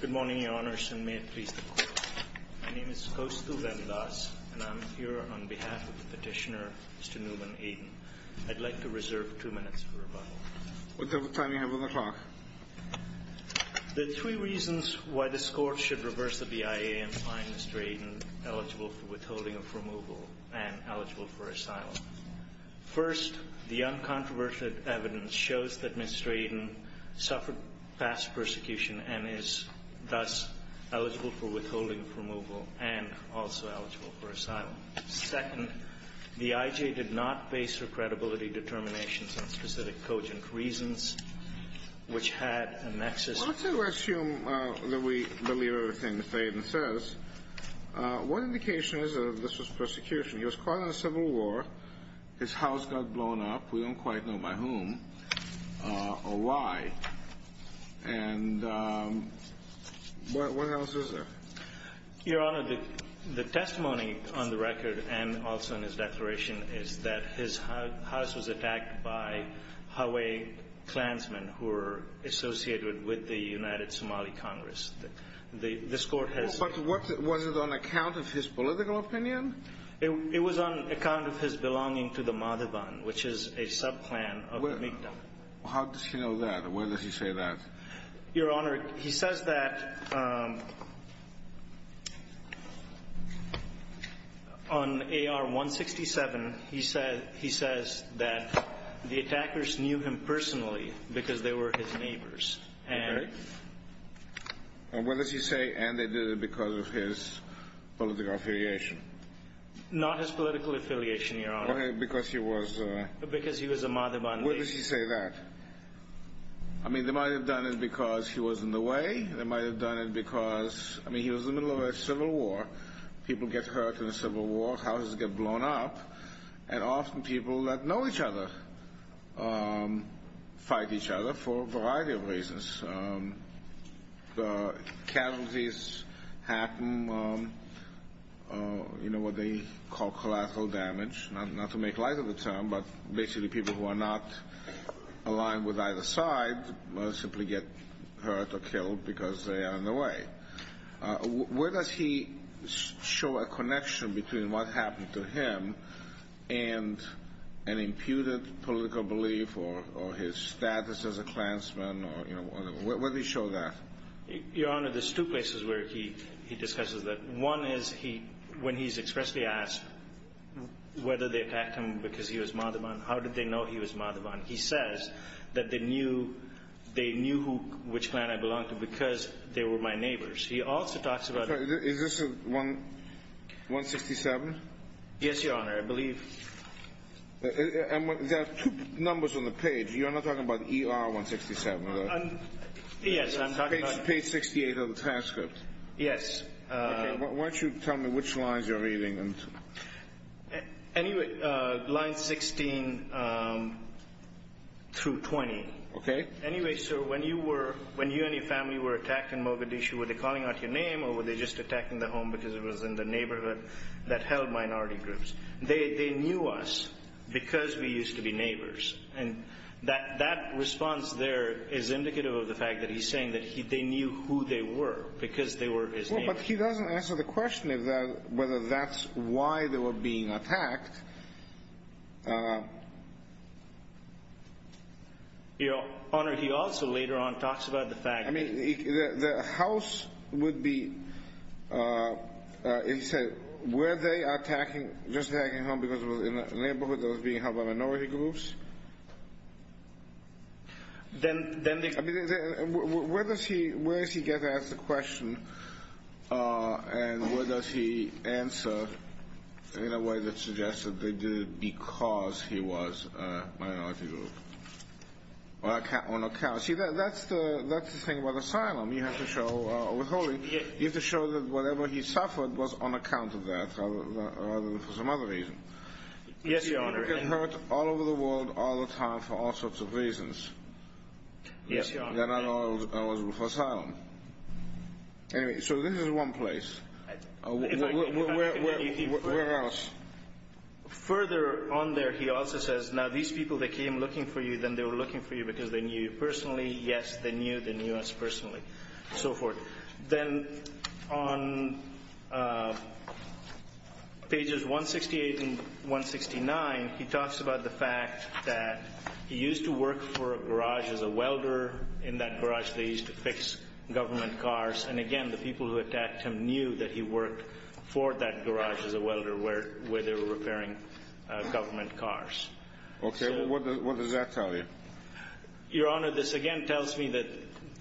Good morning, Your Honors, and may it please the Court. My name is Costu Valdas, and I'm here on behalf of the petitioner, Mr. Newman Aden. I'd like to reserve two minutes for rebuttal. What time do you have on the clock? There are three reasons why this Court should reverse the BIA and find Mr. Aden eligible for withholding of removal and eligible for asylum. First, Mr. Aden suffered past persecution and is thus eligible for withholding of removal and also eligible for asylum. Second, the IJ did not base her credibility determinations on specific cogent reasons, which had a nexus... Well, let's assume that we believe everything that Mr. Aden says. One indication is that this was persecution. He was caught in a civil war. His house got blown up. We don't quite know by whom or why. And what else is there? Your Honor, the testimony on the record and also in his declaration is that his house was attacked by Hawaiian Klansmen who were associated with the United Somali Congress. This Court has... But was it on account of his political opinion? It was on account of his belonging to the Madhavan, which is a sub-Klan of the Mi'ktaq. How does he know that? Where does he say that? Your Honor, he says that on AR-167, he says that the attackers knew him personally because they were his neighbors. And where does he say, and they did it because of his political affiliation? Not his political affiliation, Your Honor. Okay, because he was... Because he was a Madhavan native. Where does he say that? I mean, they might have done it because he was in the way. They might have done it because... I mean, he was in the middle of a civil war. People get hurt in a civil war. Houses get The casualties happen, you know, what they call collateral damage. Not to make light of the term, but basically people who are not aligned with either side simply get hurt or killed because they are in the way. Where does he show a connection between what happened to him and an imputed political belief or his status as a Klansman? Where does he show that? Your Honor, there's two places where he discusses that. One is when he's expressly asked whether they attacked him because he was Madhavan. How did they know he was Madhavan? He says that they knew which clan I belonged to because they were my neighbors. He also talks about... Is this 167? Yes, Your Honor, I believe. There are two numbers on the page. You're not talking about ER-167, are you? Yes, I'm talking about... Page 68 of the transcript. Yes. Okay, why don't you tell me which lines you're reading. Anyway, lines 16 through 20. Okay. Anyway, sir, when you and your family were attacked in Mogadishu, were they calling out your name or were they just attacking the home because it was in the neighborhood that held minority groups? They knew us because we used to be neighbors. And that response there is indicative of the fact that he's saying that they knew who they were because they were his neighbors. Well, but he doesn't answer the question of whether that's why they were being attacked. Your Honor, he also later on talks about the fact that... I mean, the house would be... He said, were they attacking, just attacking the home because it was in the neighborhood that was being held by minority groups? Then they... I mean, where does he get to ask the question and where does he answer in a way that suggests that they did it because he was a minority group? Well, on account... See, that's the thing about asylum. You have to show... You have to show that whatever he suffered was on account of that rather than for some other reason. Yes, Your Honor. People get hurt all over the world all the time for all sorts of reasons. Yes, Your Honor. They're not all eligible for asylum. Anyway, so this is one place. Where else? Further on there, he also says, now these people that came looking for you, then they were looking for you because they knew you personally. Yes, they knew. They knew us personally, and so forth. Then on pages 168 and 169, he talks about the fact that he used to work for a garage as a welder. In that garage, they used to fix government cars. Again, the people who attacked him knew that he worked for that garage as a welder where they were repairing government cars. Okay. What does that tell you? Your Honor, this again tells me that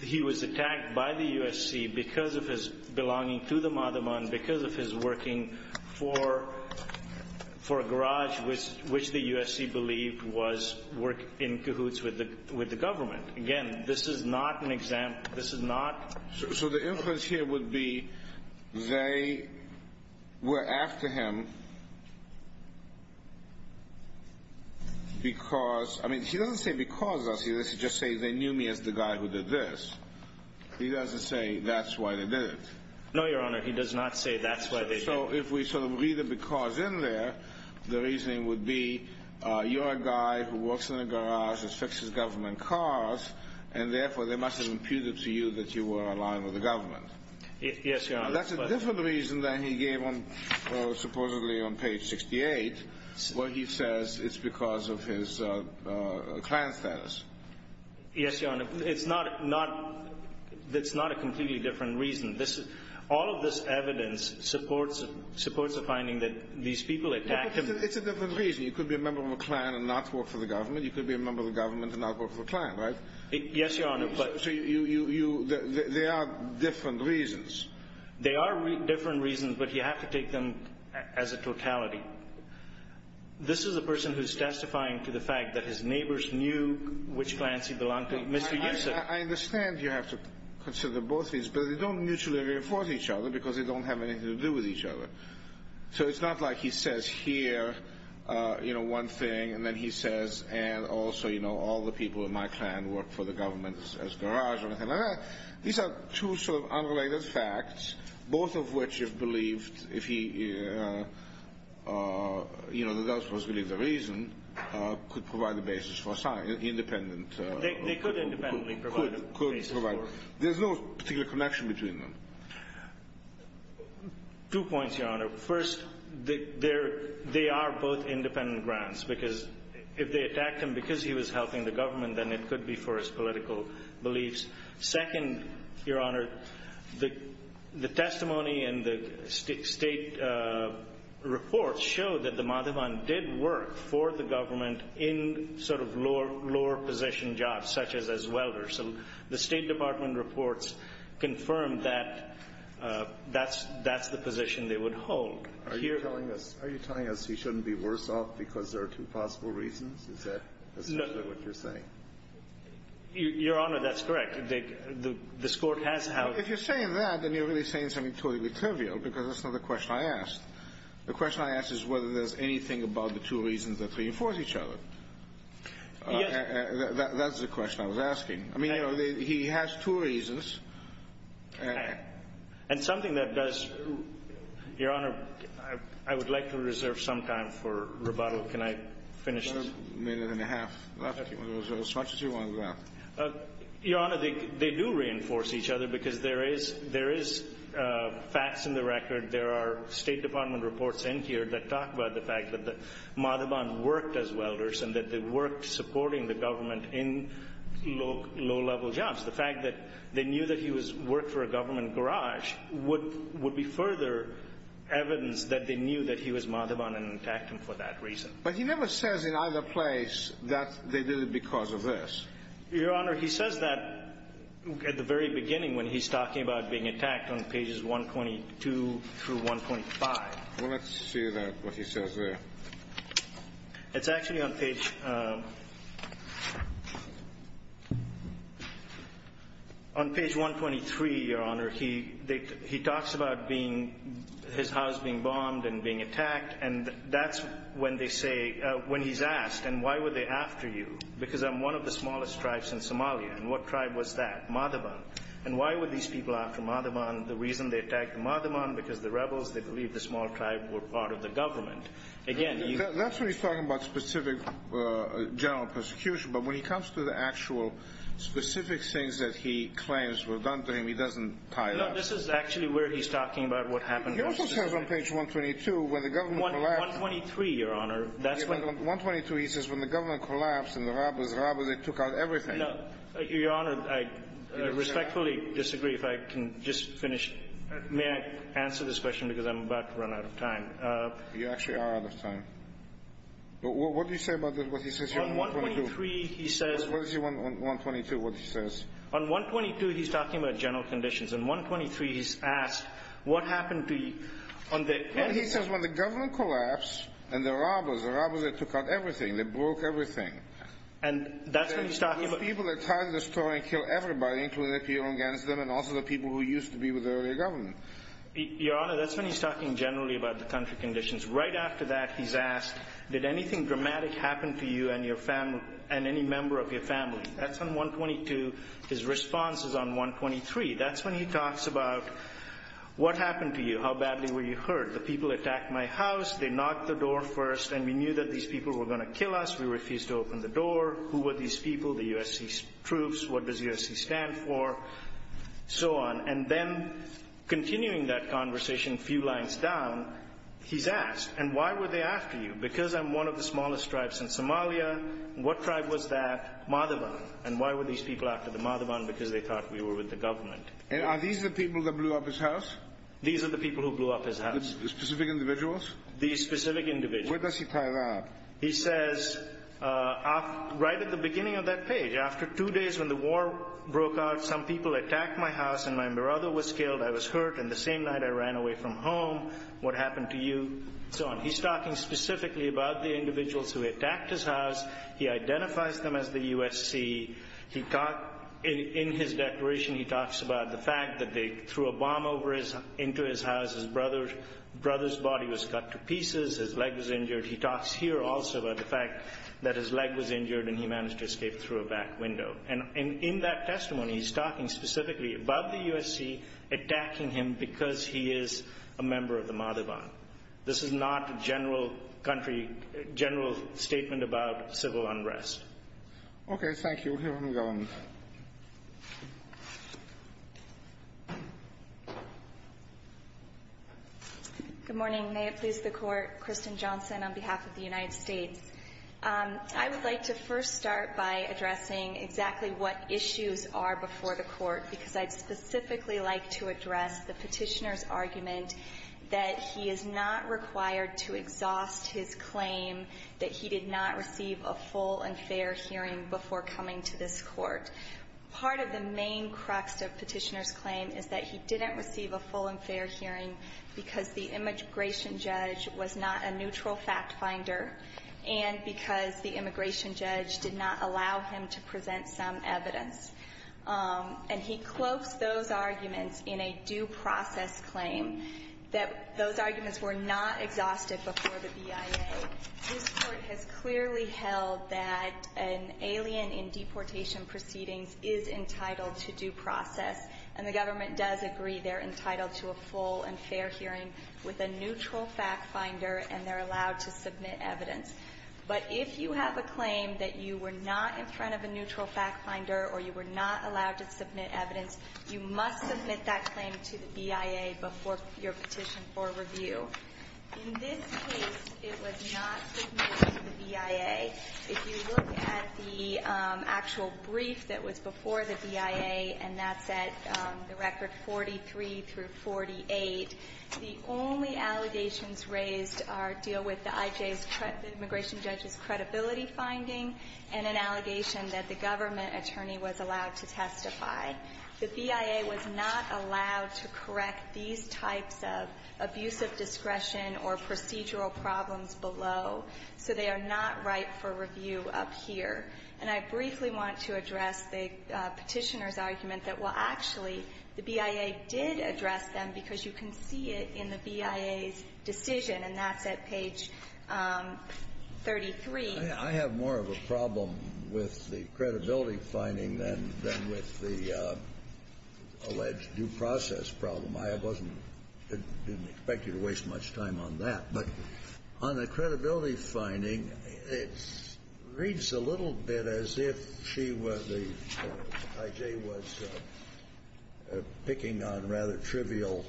he was attacked by the USC because of his belonging to the Madaman, because of his working for a garage which the USC believed was working in cahoots with the government. Again, this is not an example. So the influence here would be they were after him because, I mean, he doesn't say because of us. He doesn't just say they knew me as the guy who did this. He doesn't say that's why they did it. No, Your Honor, he does not say that's why they did it. So if we sort of read the because in there, the reasoning would be you're a guy who works in a garage that fixes government cars, and therefore they must have imputed to you that you were aligned with the government. Yes, Your Honor. That's a different reason than he gave on supposedly on page 68 where he says it's because of his Klan status. Yes, Your Honor. It's not a completely different reason. All of this evidence supports the finding that these people attacked him. It's a different reason. You could be a member of a Klan and not work for the government. You could be a member of the government and not work for the Klan, right? Yes, Your Honor. So they are different reasons. They are different reasons, but you have to take them as a totality. This is a person who's testifying to the fact that his neighbors knew which Klans he belonged to. Mr. Yancey. I understand you have to consider both these, but they don't mutually reinforce each other because they don't have anything to do with each other. So it's not like he says here, you know, one thing, and then he says, and also, you know, all the people in my Klan work for the government as garage or anything like that. These are two sort of unrelated facts, both of which you've believed if he, you know, that that was really the reason, could provide the basis for a sign, independent. They could independently provide a basis for it. There's no particular connection between them. Two points, Your Honor. First, they are both independent grounds because if they attacked him because he was helping the government, then it could be for his political beliefs. Second, Your Honor, the testimony and the state reports show that the Madhavan did work for the government in sort of lower position jobs, such as welders. So the State Department reports confirm that that's the position they would hold. Are you telling us he shouldn't be worse off because there are two possible reasons? Is that essentially what you're saying? Your Honor, that's correct. This Court has held. If you're saying that, then you're really saying something totally trivial because that's not the question I asked. The question I asked is whether there's anything about the two reasons that reinforce each other. Yes. That's the question I was asking. I mean, he has two reasons. And something that does, Your Honor, I would like to reserve some time for rebuttal. Can I finish this? A minute and a half left. As much as you want to go. Your Honor, they do reinforce each other because there is facts in the record. There are State Department reports in here that talk about the fact that Madhavan worked as welders and that they worked supporting the government in low-level jobs. The fact that they knew that he worked for a government garage would be further evidence that they knew that he was Madhavan and attacked him for that reason. But he never says in either place that they did it because of this. Your Honor, he says that at the very beginning when he's talking about being attacked on pages 122 through 125. Well, let's see what he says there. It's actually on page 123, Your Honor. He talks about his house being bombed and being attacked. And that's when they say, when he's asked, and why were they after you? Because I'm one of the smallest tribes in Somalia. And what tribe was that? Madhavan. And why were these people after Madhavan? The reason they attacked Madhavan? Because the rebels, they believed the small tribe were part of the government. That's when he's talking about specific general persecution. But when he comes to the actual specific things that he claims were done to him, he doesn't tie it up. No, this is actually where he's talking about what happened. He also says on page 122, when the government collapsed. 123, Your Honor. That's when the 122, he says, when the government collapsed and the rebels, the rebels, they took out everything. Your Honor, I respectfully disagree. If I can just finish. May I answer this question because I'm about to run out of time? You actually are out of time. What do you say about what he says here on 123? On 123, he says. What is he on 122, what he says? On 122, he's talking about general conditions. On 123, he's asked, what happened to you? He says, when the government collapsed and the rebels, the rebels, they took out everything. They broke everything. And that's when he's talking about. People that tried to destroy and kill everybody, including the people against them and also the people who used to be with the earlier government. Your Honor, that's when he's talking generally about the country conditions. Right after that, he's asked, did anything dramatic happen to you and your family and any member of your family? That's on 122. His response is on 123. That's when he talks about, what happened to you? How badly were you hurt? The people attacked my house. They knocked the door first. And we knew that these people were going to kill us. We refused to open the door. Who were these people? The USC troops. What does USC stand for? So on. And then, continuing that conversation a few lines down, he's asked, and why were they after you? Because I'm one of the smallest tribes in Somalia. What tribe was that? Madhavan. And why were these people after the Madhavan? Because they thought we were with the government. And are these the people that blew up his house? These are the people who blew up his house. The specific individuals? These specific individuals. Where does he tie that up? He says, right at the beginning of that page, after two days when the war broke out, some people attacked my house and my brother was killed. I was hurt. And the same night, I ran away from home. What happened to you? So on. He's talking specifically about the individuals who attacked his house. He identifies them as the USC. In his declaration, he talks about the fact that they threw a bomb into his house. His brother's body was cut to pieces. His leg was injured. He talks here also about the fact that his leg was injured and he managed to escape through a back window. And in that testimony, he's talking specifically about the USC attacking him because he is a member of the Madhavan. This is not a general country, general statement about civil unrest. Okay. Thank you. We'll hear from the government. Good morning. May it please the Court. Kristen Johnson on behalf of the United States. I would like to first start by addressing exactly what issues are before the Court because I'd specifically like to address the Petitioner's argument that he is not required to exhaust his claim that he did not receive a full and fair hearing before coming to this Court. Part of the main crux of Petitioner's claim is that he didn't receive a full and fair hearing because the immigration judge was not a neutral fact finder and because the immigration judge did not allow him to present some evidence. And he cloaks those arguments in a due process claim that those arguments were not exhausted before the BIA. This Court has clearly held that an alien in deportation proceedings is entitled to due process, and the government does agree they're not allowed to submit evidence. But if you have a claim that you were not in front of a neutral fact finder or you were not allowed to submit evidence, you must submit that claim to the BIA before your petition for review. In this case, it was not submitted to the BIA. If you look at the actual brief that was before the BIA, and that's at the record 43 through 48, the only allegations raised deal with the I.J.'s, the immigration judge's, credibility finding and an allegation that the government attorney was allowed to testify. The BIA was not allowed to correct these types of abusive discretion or procedural problems below, so they are not right for review up here. And I briefly want to address the Petitioner's argument that, well, actually, the BIA did address them because you can see it in the BIA's decision, and that's at page 33. I have more of a problem with the credibility finding than with the alleged due process problem. I wasn't going to expect you to waste much time on that. But on the credibility finding, it reads a little bit as if she was a – I.J. was picking on rather trivial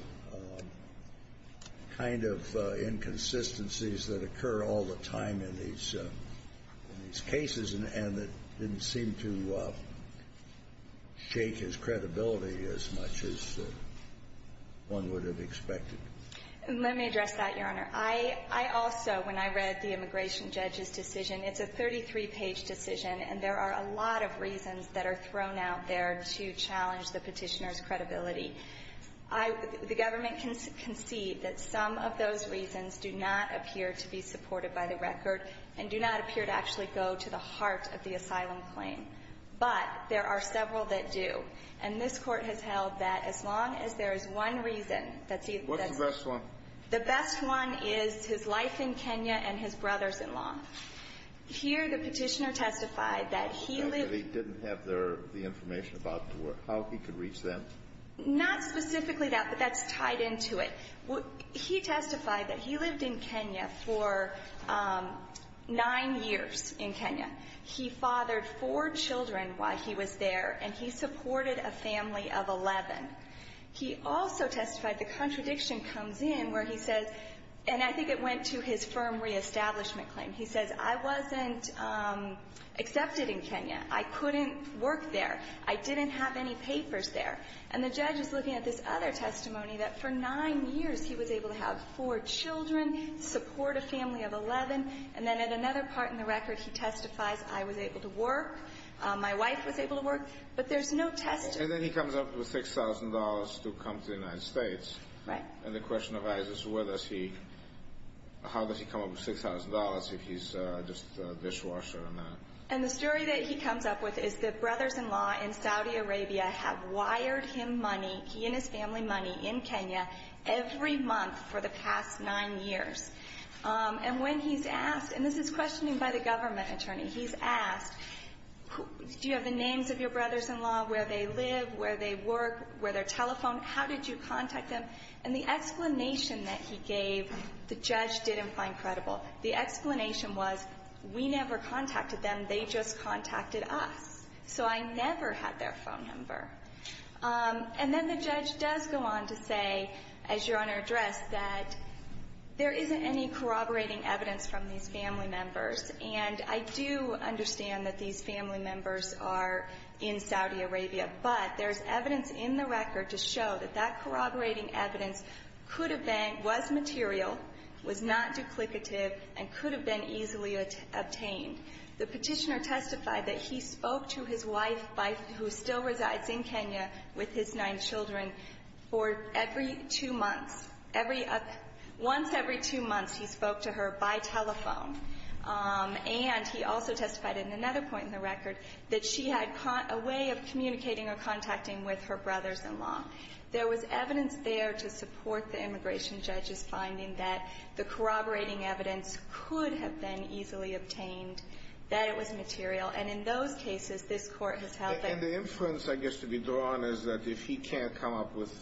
kind of inconsistencies that occur all the time in these cases and that didn't seem to shake his credibility as much as one would have expected. Let me address that, Your Honor. I also, when I read the immigration judge's decision, it's a 33-page decision, and there are a lot of reasons that are thrown out there to challenge the Petitioner's credibility. I – the government can see that some of those reasons do not appear to be supported by the record and do not appear to actually go to the heart of the asylum claim. But there are several that do, and this Court has held that as long as there is one reason that's either – What's the best one? The best one is his life in Kenya and his brother's-in-law. Here, the Petitioner testified that he lived – He didn't have the information about how he could reach them? Not specifically that, but that's tied into it. He testified that he lived in Kenya for nine years in Kenya. He fathered four children while he was there, and he supported a family of 11. He also testified – the contradiction comes in where he says – and I think it went to his firm reestablishment claim. He says, I wasn't accepted in Kenya. I couldn't work there. I didn't have any papers there. And the judge is looking at this other testimony that for nine years he was able to have four children, support a family of 11, and then at another part in the record he testifies, I was able to work, my wife was able to work, but there's no testimony. And then he comes up with $6,000 to come to the United States. Right. And the question arises, where does he – how does he come up with $6,000 if he's just a dishwasher or not? And the story that he comes up with is that brothers-in-law in Saudi Arabia have wired him money, he and his family money, in Kenya every month for the past nine years. And when he's asked – and this is questioned by the government attorney – he's asked, do you have the names of your brothers-in-law, where they live, where they work, where they're telephoned, how did you contact them? And the explanation that he gave, the judge didn't find credible. The explanation was, we never contacted them, they just contacted us. So I never had their phone number. And then the judge does go on to say, as you're on our address, that there isn't any corroborating evidence from these family members. And I do understand that these family members are in Saudi Arabia, but there's evidence in the record to show that that corroborating evidence could have been – was material, was not duplicative, and could have been easily obtained. The Petitioner testified that he spoke to his wife, who still resides in Kenya with his nine children, for every two months. Every – once every two months, he spoke to her by telephone. And he also testified in another point in the record that she had a way of communicating or contacting with her brothers-in-law. There was evidence there to support the immigration judge's finding that the corroborating evidence could have been easily obtained, that it was material. And in those cases, this Court has held that – And the inference, I guess, to be drawn is that if he can't come up with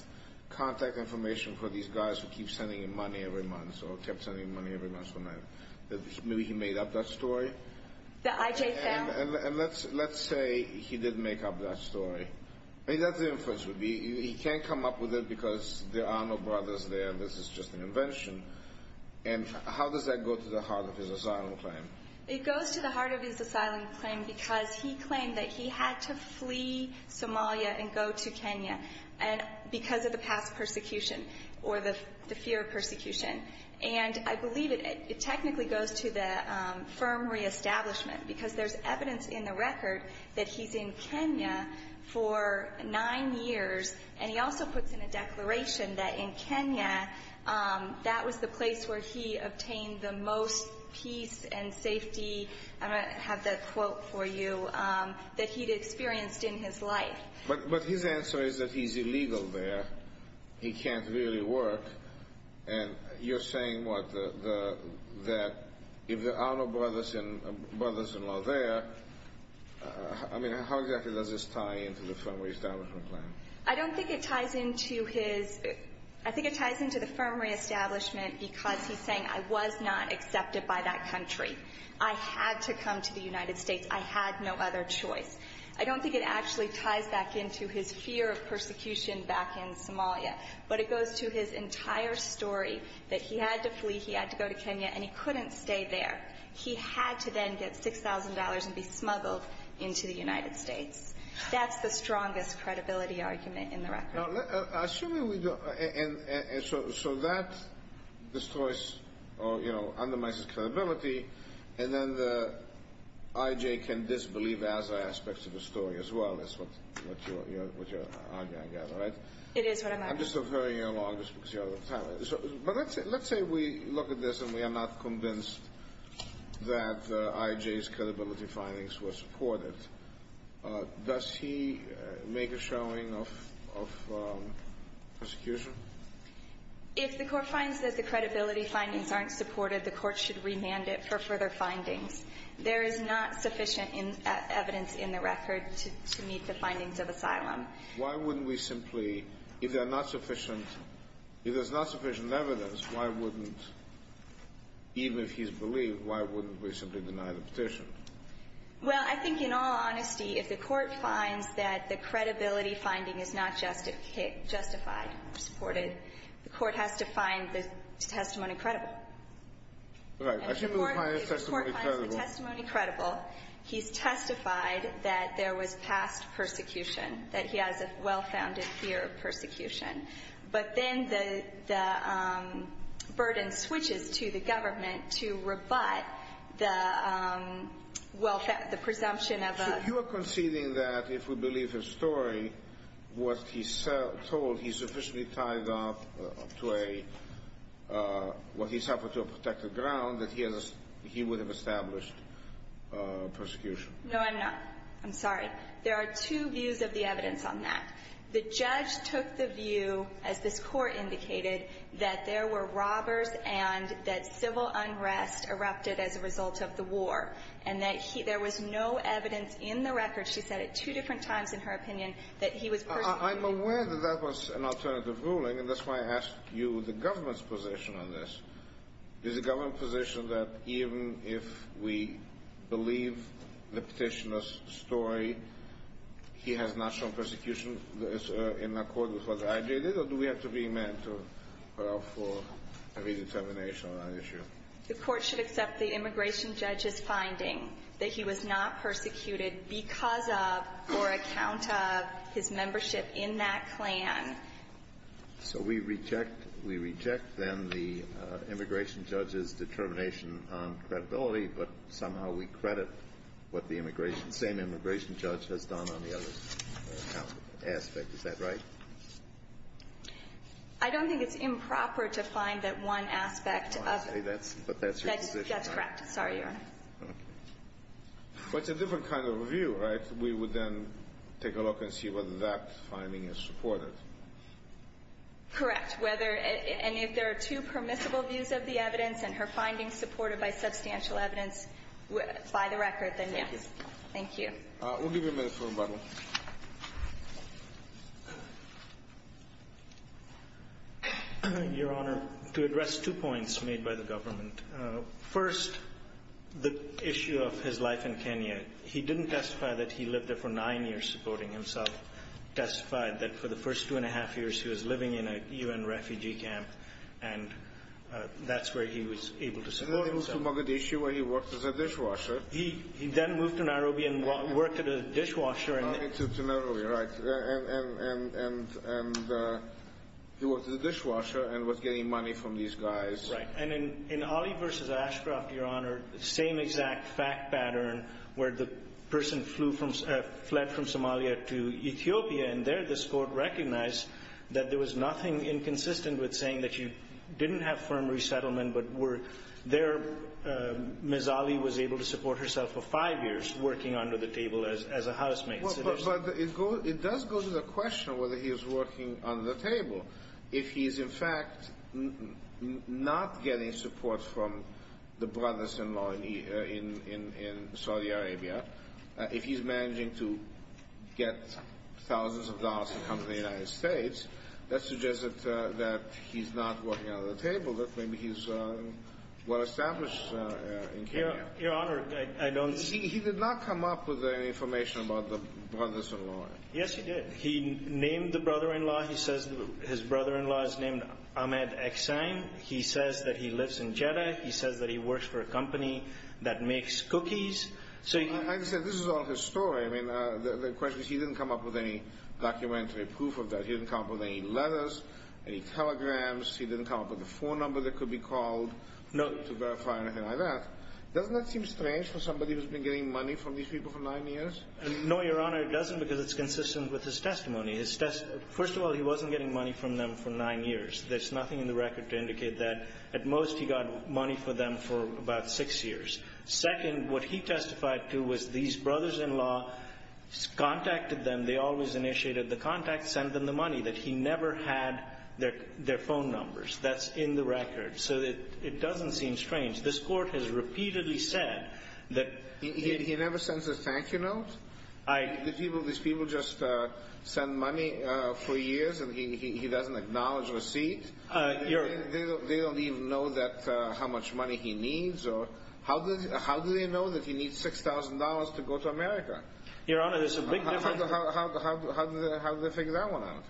contact information for these guys who keep sending him money every month, or kept sending him money every month, maybe he made up that story. The IJ family? And let's say he did make up that story. I mean, that's the inference. He can't come up with it because there are no brothers there, and this is just an invention. And how does that go to the heart of his asylum claim? It goes to the heart of his asylum claim because he claimed that he had to flee Somalia and go to Kenya because of the past persecution or the fear of persecution. And I believe it technically goes to the firm reestablishment because there's evidence in the record that he's in Kenya for nine years, and he also puts in a declaration that in Kenya, that was the place where he obtained the most peace and safety – I don't know if I have that quote for you – that he'd experienced in his life. But his answer is that he's illegal there. He can't really work. And you're saying, what, that if there are no brothers in law there, I mean, how exactly does this tie into the firm reestablishment claim? I don't think it ties into his – I think it ties into the firm reestablishment because he's saying, I was not accepted by that country. I had to come to the United States. I had no other choice. I don't think it actually ties back into his fear of persecution back in Somalia, but it goes to his entire story that he had to flee, he had to go to Kenya, and he couldn't stay there. He had to then get $6,000 and be smuggled into the United States. That's the strongest credibility argument in the record. Assuming we don't – so that destroys or, you know, undermines his credibility, and then the I.J. can disbelieve other aspects of the story as well. That's what you're arguing, right? It is what I'm arguing. I'm just deferring you along just because you're out of time. But let's say we look at this and we are not convinced that I.J.'s credibility findings were supported. Does he make a showing of persecution? If the court finds that the credibility findings aren't supported, the court should remand it for further findings. There is not sufficient evidence in the record to meet the findings of asylum. Why wouldn't we simply – if there's not sufficient evidence, why wouldn't – even if he's believed, why wouldn't we simply deny the petition? Well, I think in all honesty, if the court finds that the credibility finding is not justified, supported, the court has to find the testimony credible. Right. I should move my testimony credible. If the court finds the testimony credible, he's testified that there was past persecution, that he has a well-founded fear of persecution. But then the burden switches to the government to rebut the presumption of – So you are conceding that if we believe his story, what he told, he sufficiently tied up to a – what he suffered to a protected ground, that he would have established persecution? No, I'm not. I'm sorry. There are two views of the evidence on that. The judge took the view, as this Court indicated, that there were robbers and that civil unrest erupted as a result of the war, and that there was no evidence in the record – she said it two different times in her opinion – that he was persecuting I'm aware that that was an alternative ruling, and that's why I asked you the government's position on this. Is the government's position that even if we believe the petitioner's story, he has not shown persecution in accord with what I did, or do we have to be meant for a redetermination on that issue? The Court should accept the immigration judge's finding that he was not persecuted because of or account of his membership in that clan. So we reject – we reject then the immigration judge's determination on credibility, but somehow we credit what the same immigration judge has done on the other aspect. Is that right? I don't think it's improper to find that one aspect of it. But that's your position, right? That's correct. Sorry, Your Honor. Okay. But it's a different kind of review, right? We would then take a look and see whether that finding is supported. Correct. Whether – and if there are two permissible views of the evidence and her findings supported by substantial evidence by the record, then yes. Thank you. We'll give you a minute for rebuttal. Your Honor, to address two points made by the government. First, the issue of his life in Kenya. He didn't testify that he lived there for nine years supporting himself. Testified that for the first two and a half years he was living in a U.N. refugee camp, and that's where he was able to support himself. Then he moved to Mogadishu where he worked as a dishwasher. He then moved to Nairobi and worked at a dishwasher. Moved to Nairobi, right. And he worked as a dishwasher and was getting money from these guys. Right. And in Ali v. Ashcroft, Your Honor, same exact fact pattern where the person fled from Somalia to Ethiopia, and there this court recognized that there was nothing inconsistent with saying that he didn't have firm resettlement but there Ms. Ali was able to support herself for five years working under the table as a housemate. But it does go to the question of whether he was working under the table. If he is, in fact, not getting support from the brothers-in-law in Saudi Arabia, if he's managing to get thousands of dollars to come to the United States, that suggests that he's not working under the table, that maybe he's well-established in Kenya. Your Honor, I don't see. He did not come up with any information about the brothers-in-law. Yes, he did. He named the brother-in-law. He says his brother-in-law is named Ahmed Eksine. He says that he lives in Jeddah. He says that he works for a company that makes cookies. I understand. This is all his story. I mean, the question is he didn't come up with any documentary proof of that. He didn't come up with any letters, any telegrams. He didn't come up with a phone number that could be called to verify anything like that. Doesn't that seem strange for somebody who's been getting money from these people for nine years? No, Your Honor, it doesn't because it's consistent with his testimony. First of all, he wasn't getting money from them for nine years. There's nothing in the record to indicate that. At most, he got money from them for about six years. Second, what he testified to was these brothers-in-law contacted them. They always initiated the contact, sent them the money, that he never had their phone numbers. That's in the record. So it doesn't seem strange. This Court has repeatedly said that he never sends a thank-you note. These people just send money for years, and he doesn't acknowledge receipts. They don't even know how much money he needs. How do they know that he needs $6,000 to go to America? Your Honor, there's a big difference. How do they figure that one out?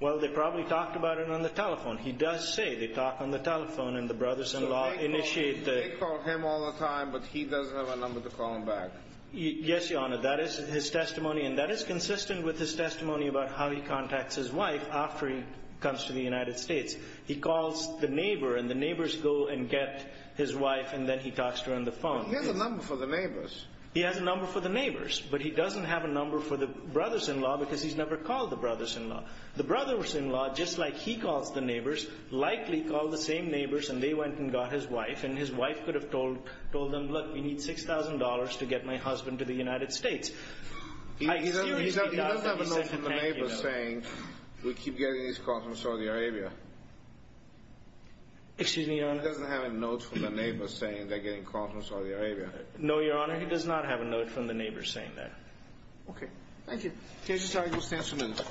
Well, they probably talked about it on the telephone. He does say they talk on the telephone, and the brothers-in-law initiate the— So they call him all the time, but he doesn't have a number to call him back. Yes, Your Honor. That is his testimony, and that is consistent with his testimony about how he contacts his wife after he comes to the United States. He calls the neighbor, and the neighbors go and get his wife, and then he talks to her on the phone. But he has a number for the neighbors. He has a number for the neighbors, but he doesn't have a number for the brothers-in-law because he's never called the brothers-in-law. The brothers-in-law, just like he calls the neighbors, likely called the same neighbors, and they went and got his wife. And his wife could have told them, look, we need $6,000 to get my husband to the United States. He doesn't have a note from the neighbors saying, we keep getting these calls from Saudi Arabia. Excuse me, Your Honor. He doesn't have a note from the neighbors saying they're getting calls from Saudi Arabia. No, Your Honor, he does not have a note from the neighbors saying that. Okay. Thank you. Judge Estrada, you'll stand for a minute.